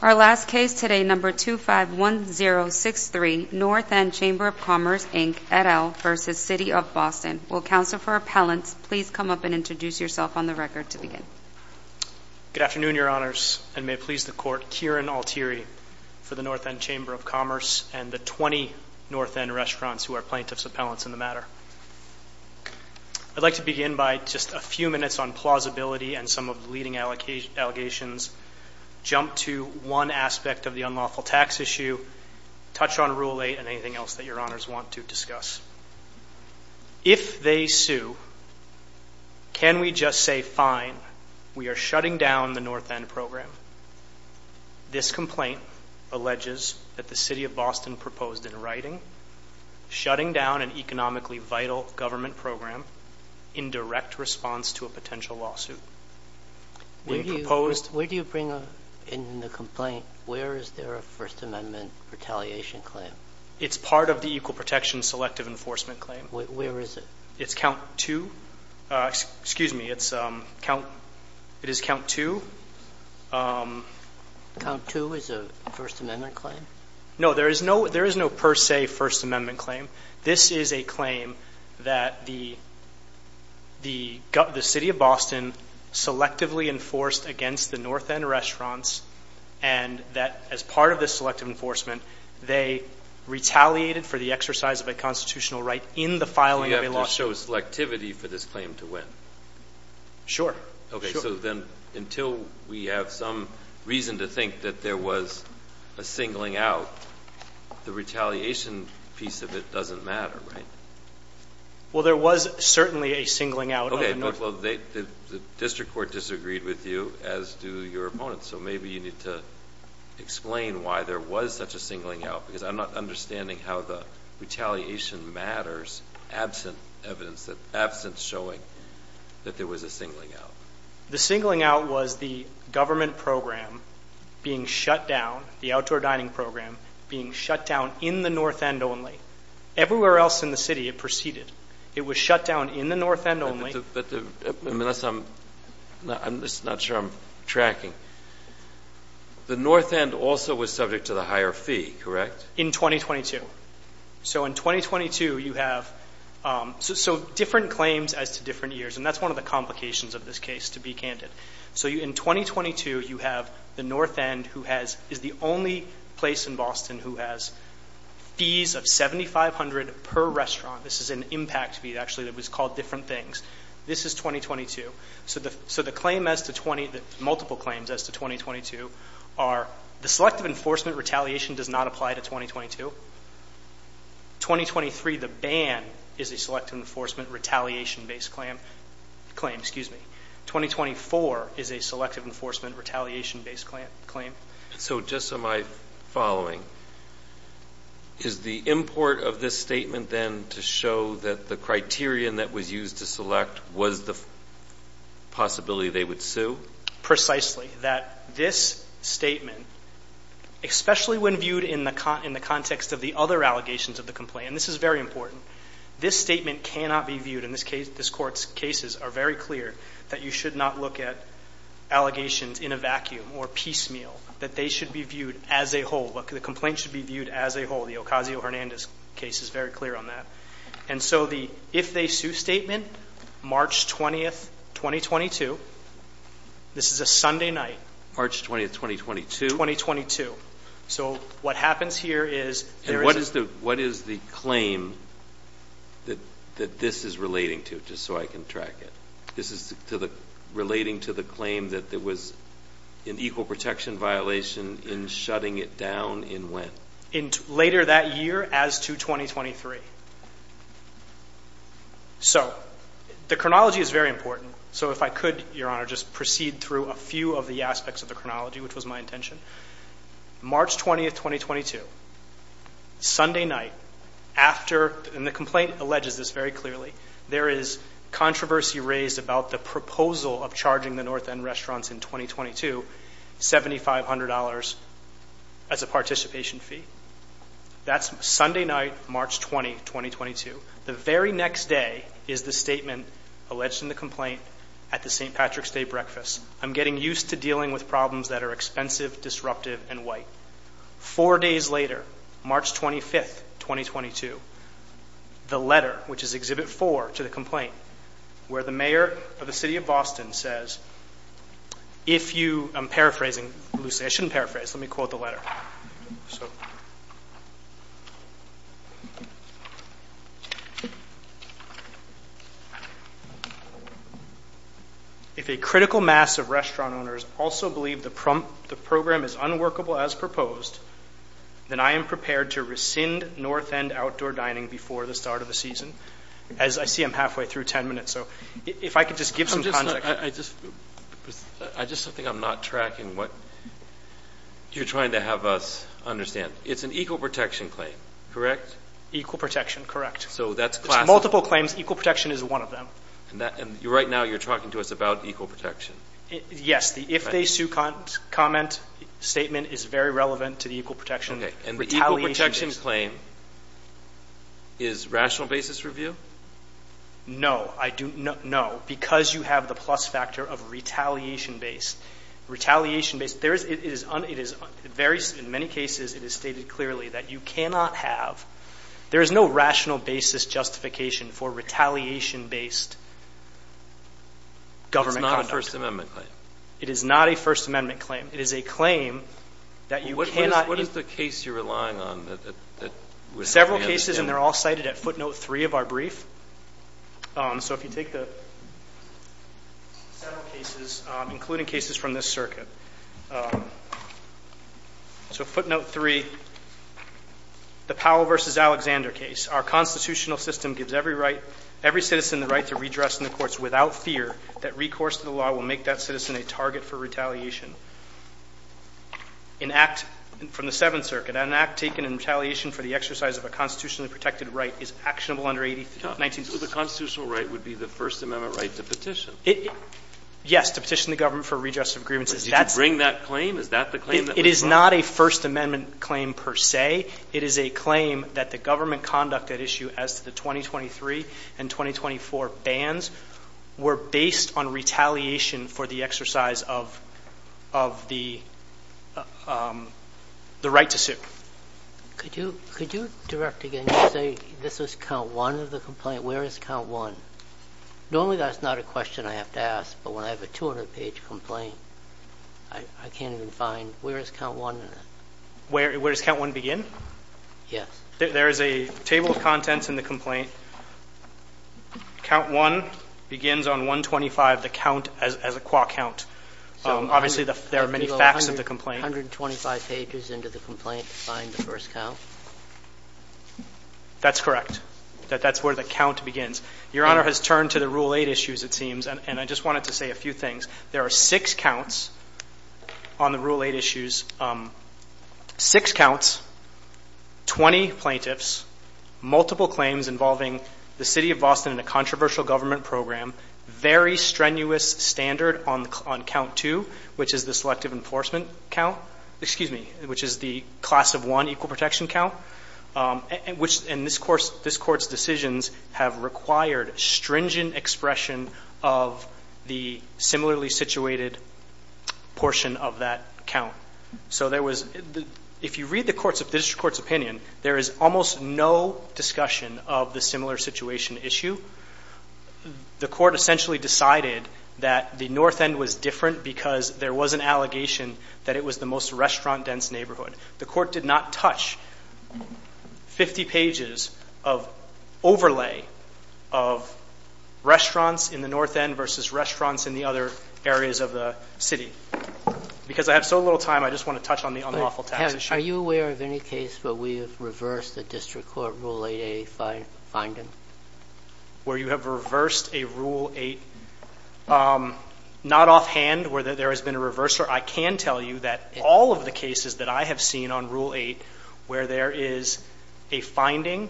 Our last case today, No. 251063, North End Chamber of Commerce, Inc., et al. v. City of Boston. Will Counsel for Appellants please come up and introduce yourself on the record to begin? Good afternoon, Your Honors, and may it please the Court, Kieran Altieri for the North End Chamber of Commerce and the 20 North End restaurants who are Plaintiff's Appellants in the matter. I'd like to begin by just a few minutes on plausibility and some of the leading allegations. jump to one aspect of the unlawful tax issue, touch on Rule 8, and anything else that Your Honors want to discuss. If they sue, can we just say, fine, we are shutting down the North End program? This complaint alleges that the City of Boston proposed in writing, shutting down an economically vital government program in direct response to a potential lawsuit. Where do you bring up in the complaint, where is there a First Amendment retaliation claim? It's part of the Equal Protection Selective Enforcement Claim. Where is it? It's Count 2. Excuse me, it's Count 2. Count 2 is a First Amendment claim? No, there is no per se First Amendment claim. This is a claim that the City of Boston selectively enforced against the North End restaurants and that as part of this selective enforcement, they retaliated for the exercise of a constitutional right in the filing of a lawsuit. Do you have to show selectivity for this claim to win? Sure. Sure. So then until we have some reason to think that there was a singling out, the retaliation piece of it doesn't matter, right? Well, there was certainly a singling out. Okay, but the district court disagreed with you, as do your opponents, so maybe you need to explain why there was such a singling out, because I'm not understanding how the retaliation matters absent evidence, absent showing that there was a singling out. The singling out was the government program being shut down, the outdoor dining program being shut down in the North End only. Everywhere else in the city it proceeded. It was shut down in the North End only. I'm just not sure I'm tracking. The North End also was subject to the higher fee, correct? In 2022. So in 2022, you have so different claims as to different years, and that's one of the complications of this case, to be candid. So in 2022, you have the North End, who is the only place in Boston who has fees of $7,500 per restaurant. This is an impact fee, actually, that was called different things. This is 2022. So the claim as to 20, the multiple claims as to 2022 are the selective enforcement retaliation does not apply to 2022. 2023, the ban is a selective enforcement retaliation-based claim, excuse me. 2024 is a selective enforcement retaliation-based claim. So just so my following, is the import of this statement then to show that the criterion that was used to select was the possibility they would sue? Precisely. That this statement, especially when viewed in the context of the other allegations of the complaint, and this is very important, this statement cannot be viewed in this case, this Court's cases are very clear that you should not look at allegations in a vacuum or piecemeal, that they should be viewed as a whole, the complaint should be viewed as a whole. The Ocasio-Hernandez case is very clear on that. And so the if-they-sue statement, March 20th, 2022, this is a Sunday night. March 20th, 2022? So what happens here is there is a... What is the claim that this is relating to, just so I can track it? This is relating to the claim that there was an equal protection violation in shutting it down in when? Later that year as to 2023. So the chronology is very important. So if I could, Your Honor, just proceed through a few of the aspects of the chronology, which was my intention. March 20th, 2022, Sunday night, after, and the complaint alleges this very clearly, there is controversy raised about the proposal of charging the North End restaurants in 2022 $7,500 as a participation fee. That's Sunday night, March 20th, 2022. The very next day is the statement alleged in the complaint at the St. Patrick's Day breakfast. I'm getting used to dealing with problems that are expensive, disruptive, and white. Four days later, March 25th, 2022, the letter, which is Exhibit 4 to the complaint, where the mayor of the city of Boston says, if you... I'm paraphrasing. I shouldn't paraphrase. Let me quote the letter. So... If a critical mass of restaurant owners also believe the program is unworkable as proposed, then I am prepared to rescind North End outdoor dining before the start of the season. As I see I'm halfway through 10 minutes. So if I could just give some context. I just think I'm not tracking what you're trying to have us understand. It's an equal protection claim, correct? Equal protection. Correct. So that's classical. Multiple claims. Equal protection is one of them. And right now, you're talking to us about equal protection. Yes. The if they sue comment statement is very relevant to the equal protection retaliation. Okay. And the equal protection claim is rational basis review? No. I do not know. Because you have the plus factor of retaliation-based. Retaliation-based. There is... It is very... In many cases, it is stated clearly that you cannot have... There is no rational basis justification for retaliation-based government conduct. It's not a First Amendment claim. It is not a First Amendment claim. It is a claim that you cannot... What is the case you're relying on that... Several cases, and they're all cited at footnote three of our brief. So if you take the several cases, including cases from this circuit. So footnote three, the Powell v. Alexander case. Our constitutional system gives every right... Every citizen the right to redress in the courts without fear that recourse to the law will make that citizen a target for retaliation. An act from the Seventh Circuit, an act taken in retaliation for the exercise of a constitutionally protected right is actionable under 18th... 19th... So the constitutional right would be the First Amendment right to petition? It... Yes. To petition the government for redress of grievances. That's... Did you bring that claim? Is that the claim that was brought? It is not a First Amendment claim per se. It is a claim that the government conduct at issue as to the 2023 and 2024 bans were based on retaliation for the exercise of the right to sue. Could you... Could you direct again? You say this was count one of the complaint. Where is count one? Normally that's not a question I have to ask, but when I have a 200-page complaint, I can't even find... Where is count one in it? Where does count one begin? Yes. There is a table of contents in the complaint. Count one begins on 125, the count as a qua count. Obviously there are many facts of the complaint. 125 pages into the complaint to find the first count? That's correct. That's where the count begins. Your Honor has turned to the Rule 8 issues, it seems, and I just wanted to say a few things. There are six counts on the Rule 8 issues, six counts, 20 plaintiffs, multiple claims involving the city of Boston and a controversial government program, very strenuous standard on count two, which is the selective enforcement count, excuse me, which is the class of one equal protection count, and this Court's decisions have required stringent expression of the similarly situated portion of that count. If you read the District Court's opinion, there is almost no discussion of the similar situation issue. The Court essentially decided that the North End was different because there was an allegation that it was the most restaurant-dense neighborhood. The Court did not touch 50 pages of overlay of restaurants in the North End versus restaurants in the other areas of the city. Because I have so little time, I just want to touch on the unlawful tax issue. Are you aware of any case where we have reversed the District Court Rule 8A finding? Where you have reversed a Rule 8, not offhand, where there has been a reverser. I can tell you that all of the cases that I have seen on Rule 8 where there is a finding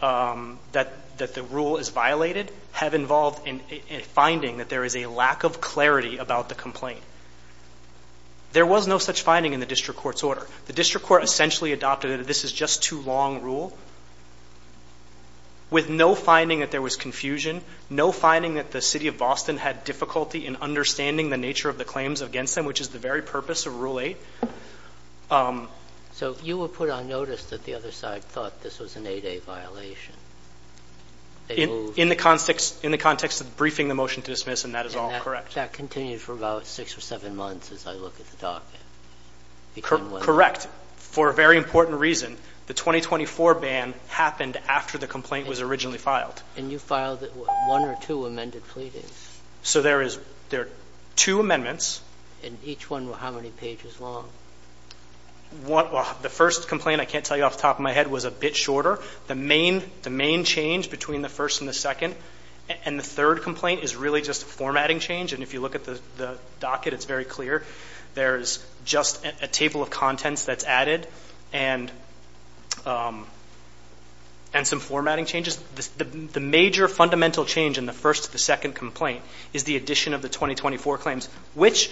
that the rule is violated have involved a finding that there is a lack of clarity about the complaint. There was no such finding in the District Court's order. The District Court essentially adopted that this is just too long a rule with no finding that there was confusion, no finding that the City of Boston had difficulty in understanding the nature of the claims against them, which is the very purpose of Rule 8. So you will put on notice that the other side thought this was an 8A violation. In the context of briefing the motion to dismiss, and that is all correct. But that continued for about six or seven months as I look at the document. Correct. For a very important reason, the 2024 ban happened after the complaint was originally filed. And you filed one or two amended pleadings. So there are two amendments. And each one, how many pages long? The first complaint, I can't tell you off the top of my head, was a bit shorter. The main change between the first and the second, and the third complaint is really just a formatting change. And if you look at the docket, it's very clear. There's just a table of contents that's added and some formatting changes. The major fundamental change in the first to the second complaint is the addition of the 2024 claims, which,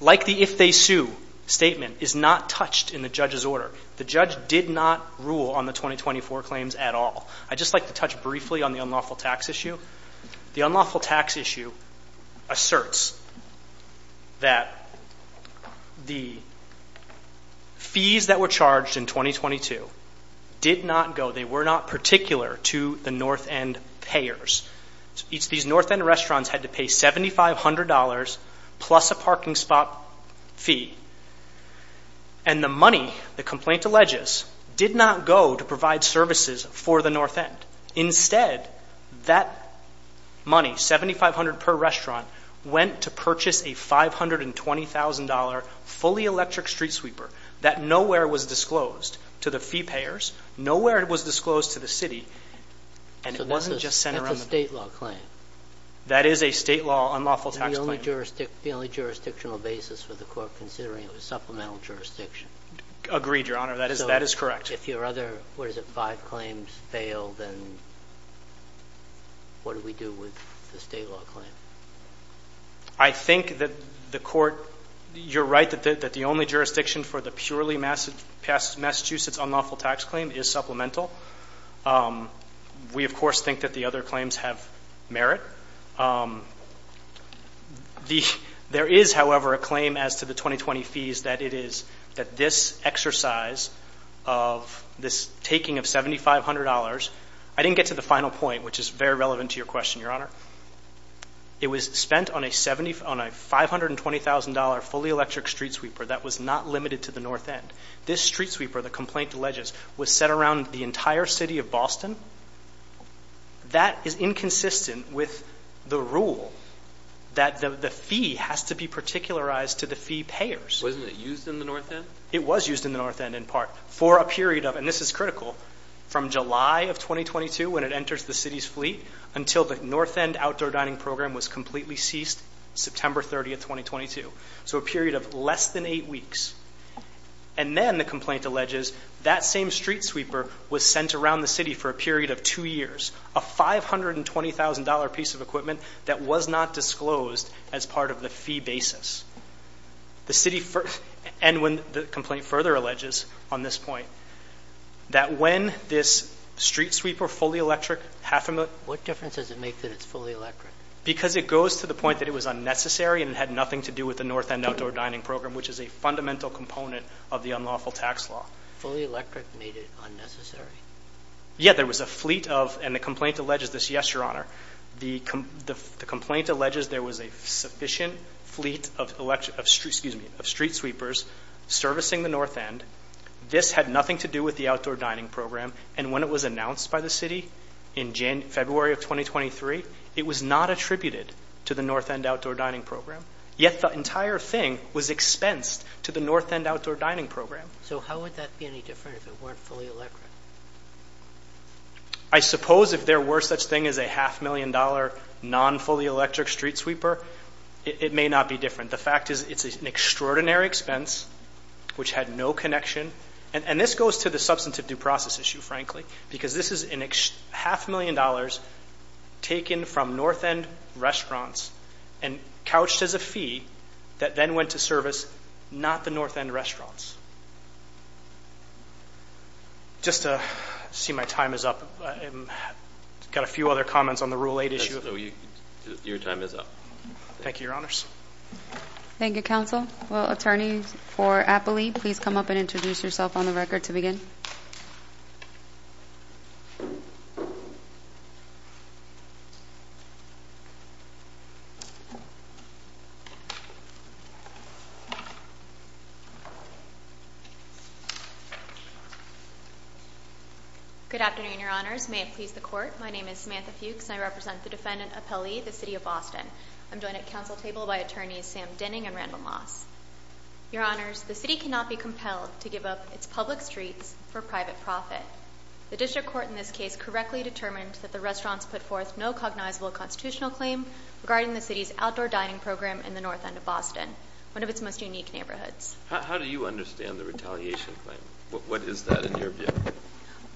like the if they sue statement, is not touched in the judge's order. The judge did not rule on the 2024 claims at all. I'd just like to touch briefly on the unlawful tax issue. The unlawful tax issue asserts that the fees that were charged in 2022 did not go. They were not particular to the North End payers. These North End restaurants had to pay $7,500 plus a parking spot fee. And the money, the complaint alleges, did not go to provide services for the North End. Instead, that money, $7,500 per restaurant, went to purchase a $520,000 fully electric street sweeper that nowhere was disclosed to the fee payers, nowhere it was disclosed to the city, and it wasn't just sent around the country. That's a State law claim. That is a State law unlawful tax claim. The only jurisdictional basis for the court considering it was supplemental jurisdiction. Agreed, Your Honor. That is correct. If your other, what is it, five claims fail, then what do we do with the State law claim? I think that the court, you're right that the only jurisdiction for the purely Massachusetts unlawful tax claim is supplemental. We of course think that the other claims have merit. There is, however, a claim as to the 2020 fees that it is, that this exercise of this taking of $7,500, I didn't get to the final point, which is very relevant to your question, Your Honor. It was spent on a $520,000 fully electric street sweeper that was not limited to the North End. This street sweeper, the complaint alleges, was set around the entire city of Boston. That is inconsistent with the rule that the fee has to be particularized to the fee payers. Wasn't it used in the North End? It was used in the North End in part for a period of, and this is critical, from July of 2022 when it enters the city's fleet until the North End outdoor dining program was completely ceased September 30th, 2022, so a period of less than eight weeks. And then the complaint alleges that same street sweeper was sent around the city for a period of two years, a $520,000 piece of equipment that was not disclosed as part of the fee basis. The city, and when the complaint further alleges on this point, that when this street sweeper fully electric, half a million. What difference does it make that it's fully electric? Because it goes to the point that it was unnecessary and it had nothing to do with the North End outdoor dining program, which is a fundamental component of the unlawful tax law. Fully electric made it unnecessary? Yeah, there was a fleet of, and the complaint alleges this, yes, Your Honor, the complaint alleges there was a sufficient fleet of street sweepers servicing the North End. This had nothing to do with the outdoor dining program. And when it was announced by the city in February of 2023, it was not attributed to the North End outdoor dining program, yet the entire thing was expensed to the North End outdoor dining program. So how would that be any different if it weren't fully electric? I suppose if there were such thing as a half million dollar non-fully electric street sweeper, it may not be different. The fact is, it's an extraordinary expense, which had no connection. And this goes to the substantive due process issue, frankly, because this is a half million dollars taken from North End restaurants and couched as a fee that then went to service not the North End restaurants. Just to see my time is up, I've got a few other comments on the Rule 8 issue. Your time is up. Thank you, Your Honors. Thank you, Counsel. Will attorneys for Appley please come up and introduce yourself on the record to begin? Good afternoon, Your Honors. May it please the Court. My name is Samantha Fuchs, and I represent the defendant Appley, the City of Boston. I'm joined at counsel table by attorneys Sam Denning and Randall Moss. Your Honors, the City cannot be compelled to give up its public streets for private profit. The District Court in this case correctly determined that the restaurants put forth no cognizable constitutional claim regarding the City's outdoor dining program in the North End of Boston, one of its most unique neighborhoods. How do you understand the retaliation claim? What is that in your view?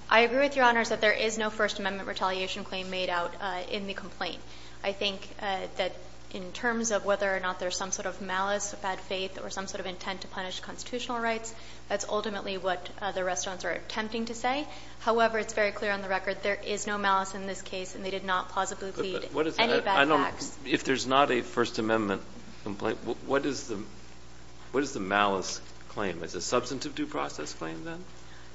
I agree with Your Honors that there is no First Amendment retaliation claim made out in the complaint. I think that in terms of whether or not there's some sort of malice, bad faith, or some sort of intent to punish constitutional rights, that's ultimately what the restaurants are attempting to say. However, it's very clear on the record there is no malice in this case, and they did not plausibly plead any bad facts. If there's not a First Amendment complaint, what is the malice claim? Is it a substantive due process claim, then?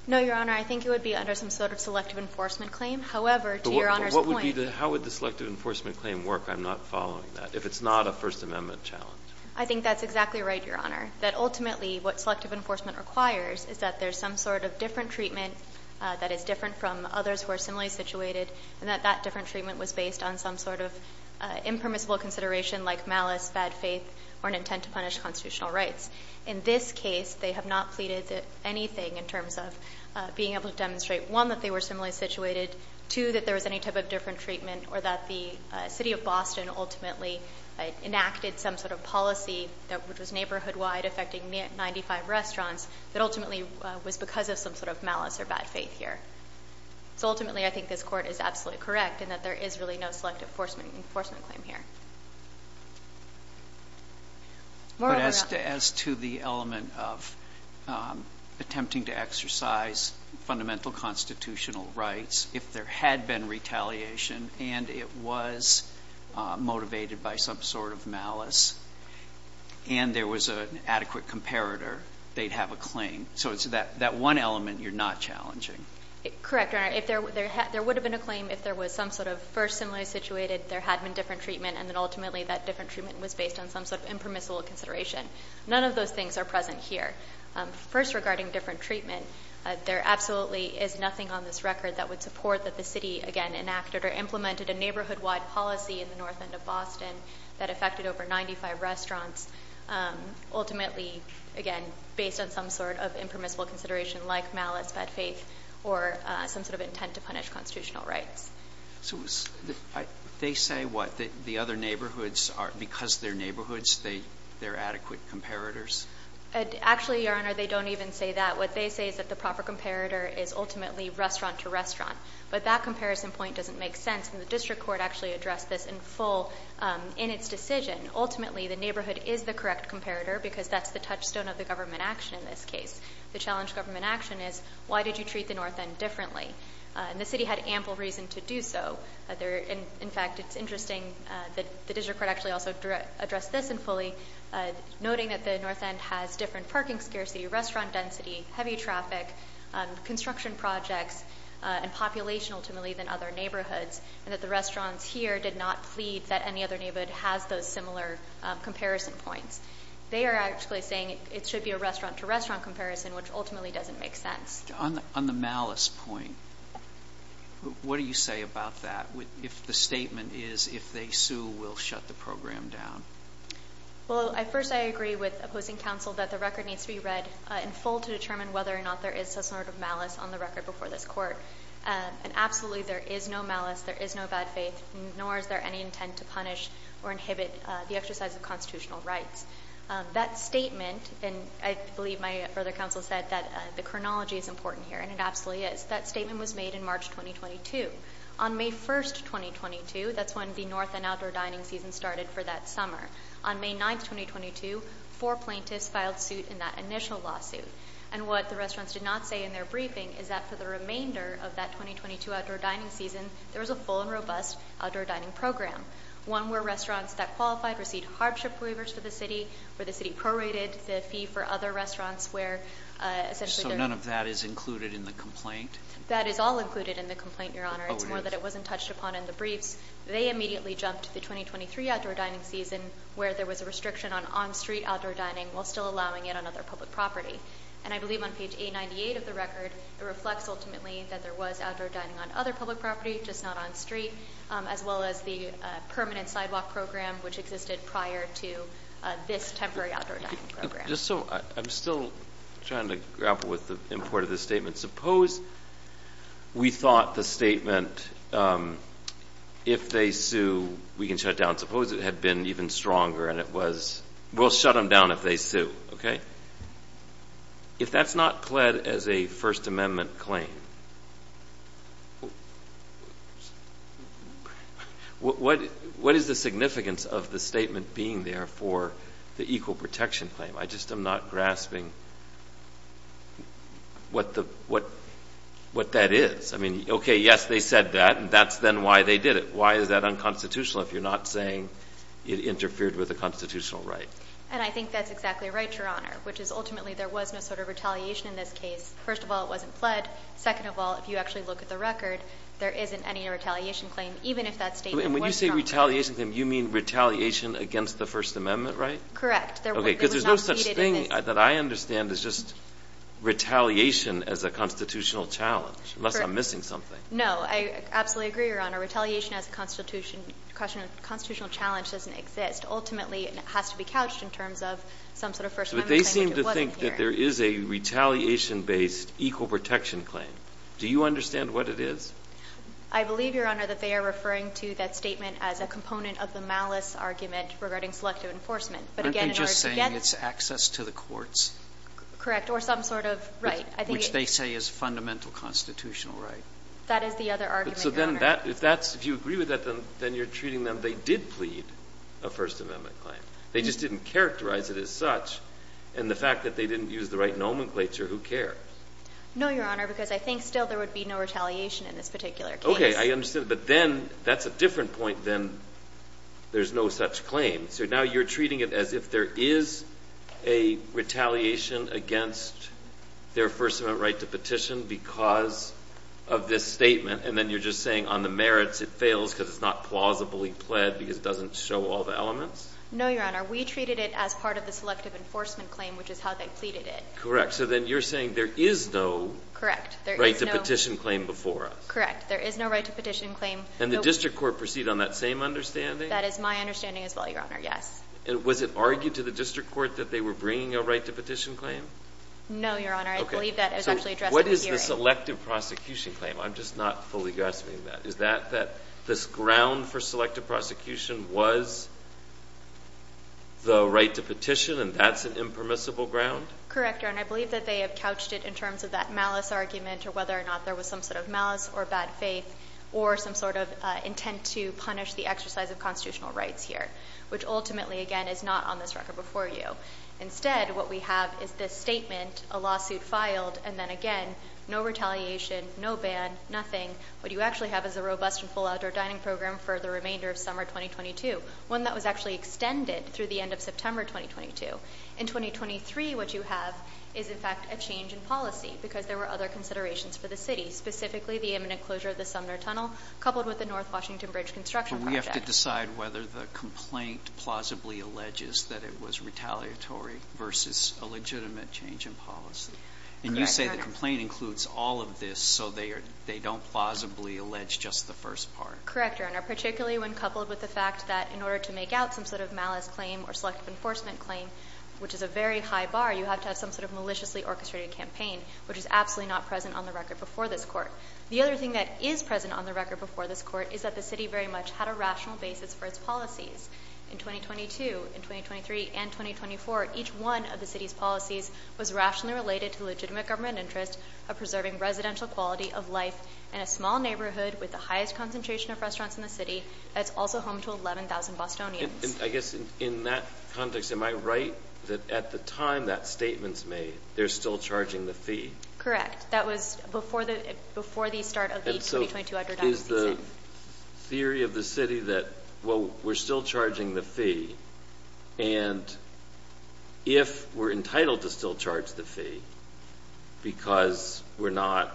No, Your Honor. I think it would be under some sort of selective enforcement claim. However, to Your Honor's point But what would be the – how would the selective enforcement claim work, I'm not following that, if it's not a First Amendment challenge? I think that's exactly right, Your Honor, that ultimately what selective enforcement requires is that there's some sort of different treatment that is different from others who are similarly situated, and that that different treatment was based on some sort of impermissible consideration like malice, bad faith, or an intent to punish constitutional rights. In this case, they have not pleaded anything in terms of being able to demonstrate, one, that they were similarly situated, two, that there was any type of different treatment, or that the City of Boston ultimately enacted some sort of policy that was neighborhood-wide, affecting 95 restaurants, that ultimately was because of some sort of malice or bad faith here. So ultimately, I think this Court is absolutely correct in that there is really no selective enforcement claim here. Moreover, Your Honor. But as to the element of attempting to exercise fundamental constitutional rights, if there had been retaliation and it was motivated by some sort of malice and there was an adequate comparator, they'd have a claim. So it's that one element you're not challenging. Correct, Your Honor. If there would have been a claim if there was some sort of first similarly situated, there had been different treatment, and then ultimately that different treatment was based on some sort of impermissible consideration. None of those things are present here. First, regarding different treatment, there absolutely is nothing on this record that would support that the city, again, enacted or implemented a neighborhood-wide policy in the north end of Boston that affected over 95 restaurants, ultimately, again, based on some sort of impermissible consideration like malice, bad faith, or some sort of intent to punish constitutional rights. So they say what? That the other neighborhoods are, because they're neighborhoods, they're adequate comparators? Actually, Your Honor, they don't even say that. What they say is that the proper comparator is ultimately restaurant to restaurant. But that comparison point doesn't make sense, and the district court actually addressed this in full in its decision. Ultimately, the neighborhood is the correct comparator, because that's the touchstone of the government action in this case. The challenge of government action is, why did you treat the north end differently? And the city had ample reason to do so. In fact, it's interesting that the district court actually also addressed this in fully, noting that the north end has different parking scarcity, restaurant density, heavy traffic, construction projects, and population, ultimately, than other neighborhoods, and that the restaurants here did not plead that any other neighborhood has those similar comparison points. They are actually saying it should be a restaurant to restaurant comparison, which ultimately doesn't make sense. On the malice point, what do you say about that? If the statement is, if they sue, we'll shut the program down. Well, first, I agree with opposing counsel that the record needs to be read in full to determine whether or not there is some sort of malice on the record before this court. And absolutely, there is no malice. There is no bad faith, nor is there any intent to punish or inhibit the exercise of constitutional rights. That statement, and I believe my brother counsel said that the chronology is important here, and it absolutely is. That statement was made in March 2022. On May 1st, 2022, that's when the north and outdoor dining season started for that summer. On May 9th, 2022, four plaintiffs filed suit in that initial lawsuit. And what the restaurants did not say in their briefing is that for the remainder of that 2022 outdoor dining season, there was a full and robust outdoor dining program. One where restaurants that qualified received hardship waivers for the city, where the city prorated the fee for other restaurants where essentially- So none of that is included in the complaint? That is all included in the complaint, Your Honor. It's more that it wasn't touched upon in the briefs. They immediately jumped to the 2023 outdoor dining season, where there was a restriction on on-street outdoor dining, while still allowing it on other public property. And I believe on page 898 of the record, it reflects ultimately that there was outdoor dining on other public property, just not on street, as well as the permanent sidewalk program, which existed prior to this temporary outdoor dining program. I'm still trying to grapple with the import of this statement. Suppose we thought the statement, if they sue, we can shut down. Suppose it had been even stronger and it was, we'll shut them down if they sue. Okay? If that's not pled as a First Amendment claim, what is the significance of the statement being there for the equal protection claim? I just am not grasping what that is. I mean, okay, yes, they said that, and that's then why they did it. Why is that unconstitutional if you're not saying it interfered with a constitutional right? And I think that's exactly right, Your Honor, which is ultimately there was no sort of retaliation in this case. First of all, it wasn't pled. Second of all, if you actually look at the record, there isn't any retaliation claim, even if that statement was stronger. And when you say retaliation claim, you mean retaliation against the First Amendment, right? Correct. Okay, because there's no such thing that I understand as just retaliation as a constitutional challenge, unless I'm missing something. No, I absolutely agree, Your Honor. Retaliation as a constitutional challenge doesn't exist. Ultimately, it has to be couched in terms of some sort of First Amendment claim, which it wasn't here. But they seem to think that there is a retaliation-based equal protection claim. Do you understand what it is? I believe, Your Honor, that they are referring to that statement as a component of the malice argument regarding selective enforcement. Aren't they just saying it's access to the courts? Correct. Or some sort of right. Which they say is fundamental constitutional right. That is the other argument, Your Honor. So then that – if that's – if you agree with that, then you're treating them – they did plead a First Amendment claim. They just didn't characterize it as such, and the fact that they didn't use the right nomenclature, who cares? No, Your Honor, because I think still there would be no retaliation in this particular case. Okay. I understand. But then that's a different point than there's no such claim. So now you're treating it as if there is a retaliation against their First Amendment right to petition because of this statement, and then you're just saying on the merits it fails because it's not plausibly pled because it doesn't show all the elements? No, Your Honor. We treated it as part of the selective enforcement claim, which is how they pleaded it. Correct. So then you're saying there is no right to petition claim before us. Correct. There is no right to petition claim. And the district court proceeded on that same understanding? That is my understanding as well, Your Honor. Yes. And was it argued to the district court that they were bringing a right to petition claim? No, Your Honor. I believe that it was actually addressed in the hearing. So what is the selective prosecution claim? I'm just not fully grasping that. Is that this ground for selective prosecution was the right to petition, and that's an impermissible ground? Correct, Your Honor. I believe that they have couched it in terms of that malice argument or whether or not there was some sort of malice or bad faith or some sort of intent to punish the exercise of constitutional rights here, which ultimately, again, is not on this record before you. Instead, what we have is this statement, a lawsuit filed, and then again, no retaliation, no ban, nothing. What you actually have is a robust and full outdoor dining program for the remainder of summer 2022, one that was actually extended through the end of September 2022. In 2023, what you have is, in fact, a change in policy because there were other considerations for the city, specifically the imminent closure of the Sumner Tunnel coupled with the North Washington Bridge construction project. But you have to decide whether the complaint plausibly alleges that it was retaliatory versus a legitimate change in policy. And you say the complaint includes all of this, so they don't plausibly allege just the first part. Correct, Your Honor, particularly when coupled with the fact that in order to make out some sort of malice claim or selective enforcement claim, which is a very high bar, you have to have some sort of maliciously orchestrated campaign, which is absolutely not present on the record before this Court. The other thing that is present on the record before this Court is that the city very much had a rational basis for its policies in 2022, in 2023 and 2024. Each one of the city's policies was rationally related to the legitimate government interest of preserving residential quality of life in a small neighborhood with the highest concentration of restaurants in the city. That's also home to 11,000 Bostonians. I guess in that context, am I right that at the time that statement's made, they're still charging the fee? Correct. That was before the start of the 2022 outdoor dining season. What is the theory of the city that, well, we're still charging the fee, and if we're entitled to still charge the fee because we're not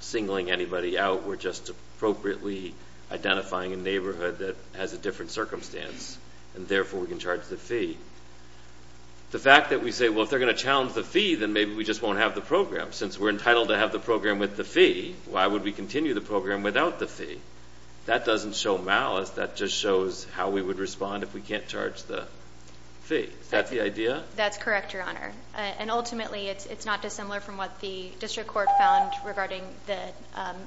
singling anybody out, we're just appropriately identifying a neighborhood that has a different circumstance, and therefore we can charge the fee, the fact that we say, well, if they're going to challenge the fee, then maybe we just won't have the program. Since we're entitled to have the program with the fee, why would we continue the program without the fee? That doesn't show malice. That just shows how we would respond if we can't charge the fee. Is that the idea? That's correct, Your Honor. And ultimately, it's not dissimilar from what the district court found regarding the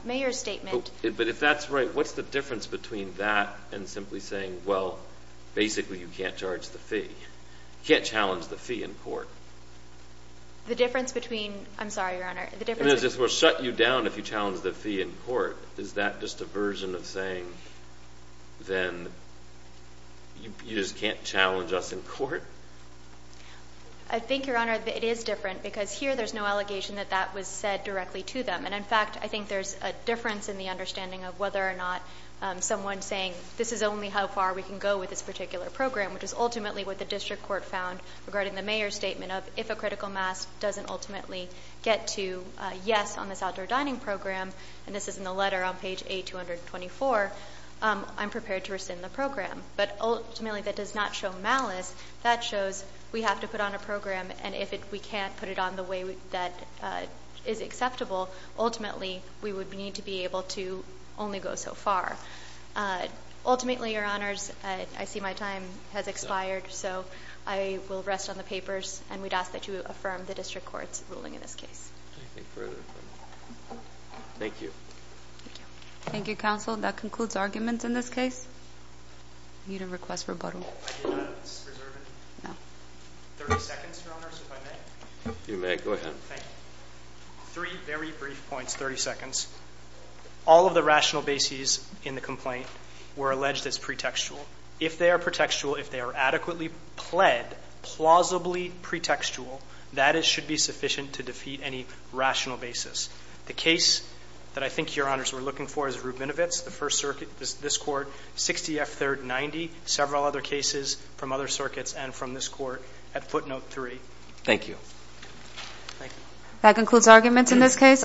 mayor's statement. But if that's right, what's the difference between that and simply saying, well, basically you can't charge the fee, you can't challenge the fee in court? The difference between, I'm sorry, Your Honor, the difference is... We won't shut you down if you challenge the fee in court. Is that just a version of saying, then, you just can't challenge us in court? I think, Your Honor, that it is different because here there's no allegation that that was said directly to them. And in fact, I think there's a difference in the understanding of whether or not someone's saying, this is only how far we can go with this particular program, which is ultimately what the district court found regarding the mayor's statement of, if a person with a physical mask doesn't ultimately get to a yes on this outdoor dining program, and this is in the letter on page A224, I'm prepared to rescind the program. But ultimately, that does not show malice. That shows we have to put on a program, and if we can't put it on the way that is acceptable, ultimately, we would need to be able to only go so far. Ultimately, Your Honors, I see my time has expired, so I will rest on the papers. And we'd ask that you affirm the district court's ruling in this case. Thank you. Thank you. Thank you, counsel. That concludes arguments in this case. I need to request rebuttal. I did not. This is reserved. No. Thirty seconds, Your Honors, if I may. You may. Go ahead. Thank you. Three very brief points. Thirty seconds. All of the rational bases in the complaint were alleged as pretextual. If they are pretextual, if they are adequately pled, plausibly pretextual, that should be sufficient to defeat any rational basis. The case that I think Your Honors were looking for is Rubinovitz, the First Circuit, this Court, 60 F. 3rd 90, several other cases from other circuits and from this Court at footnote 3. Thank you. Thank you. That concludes arguments in this case.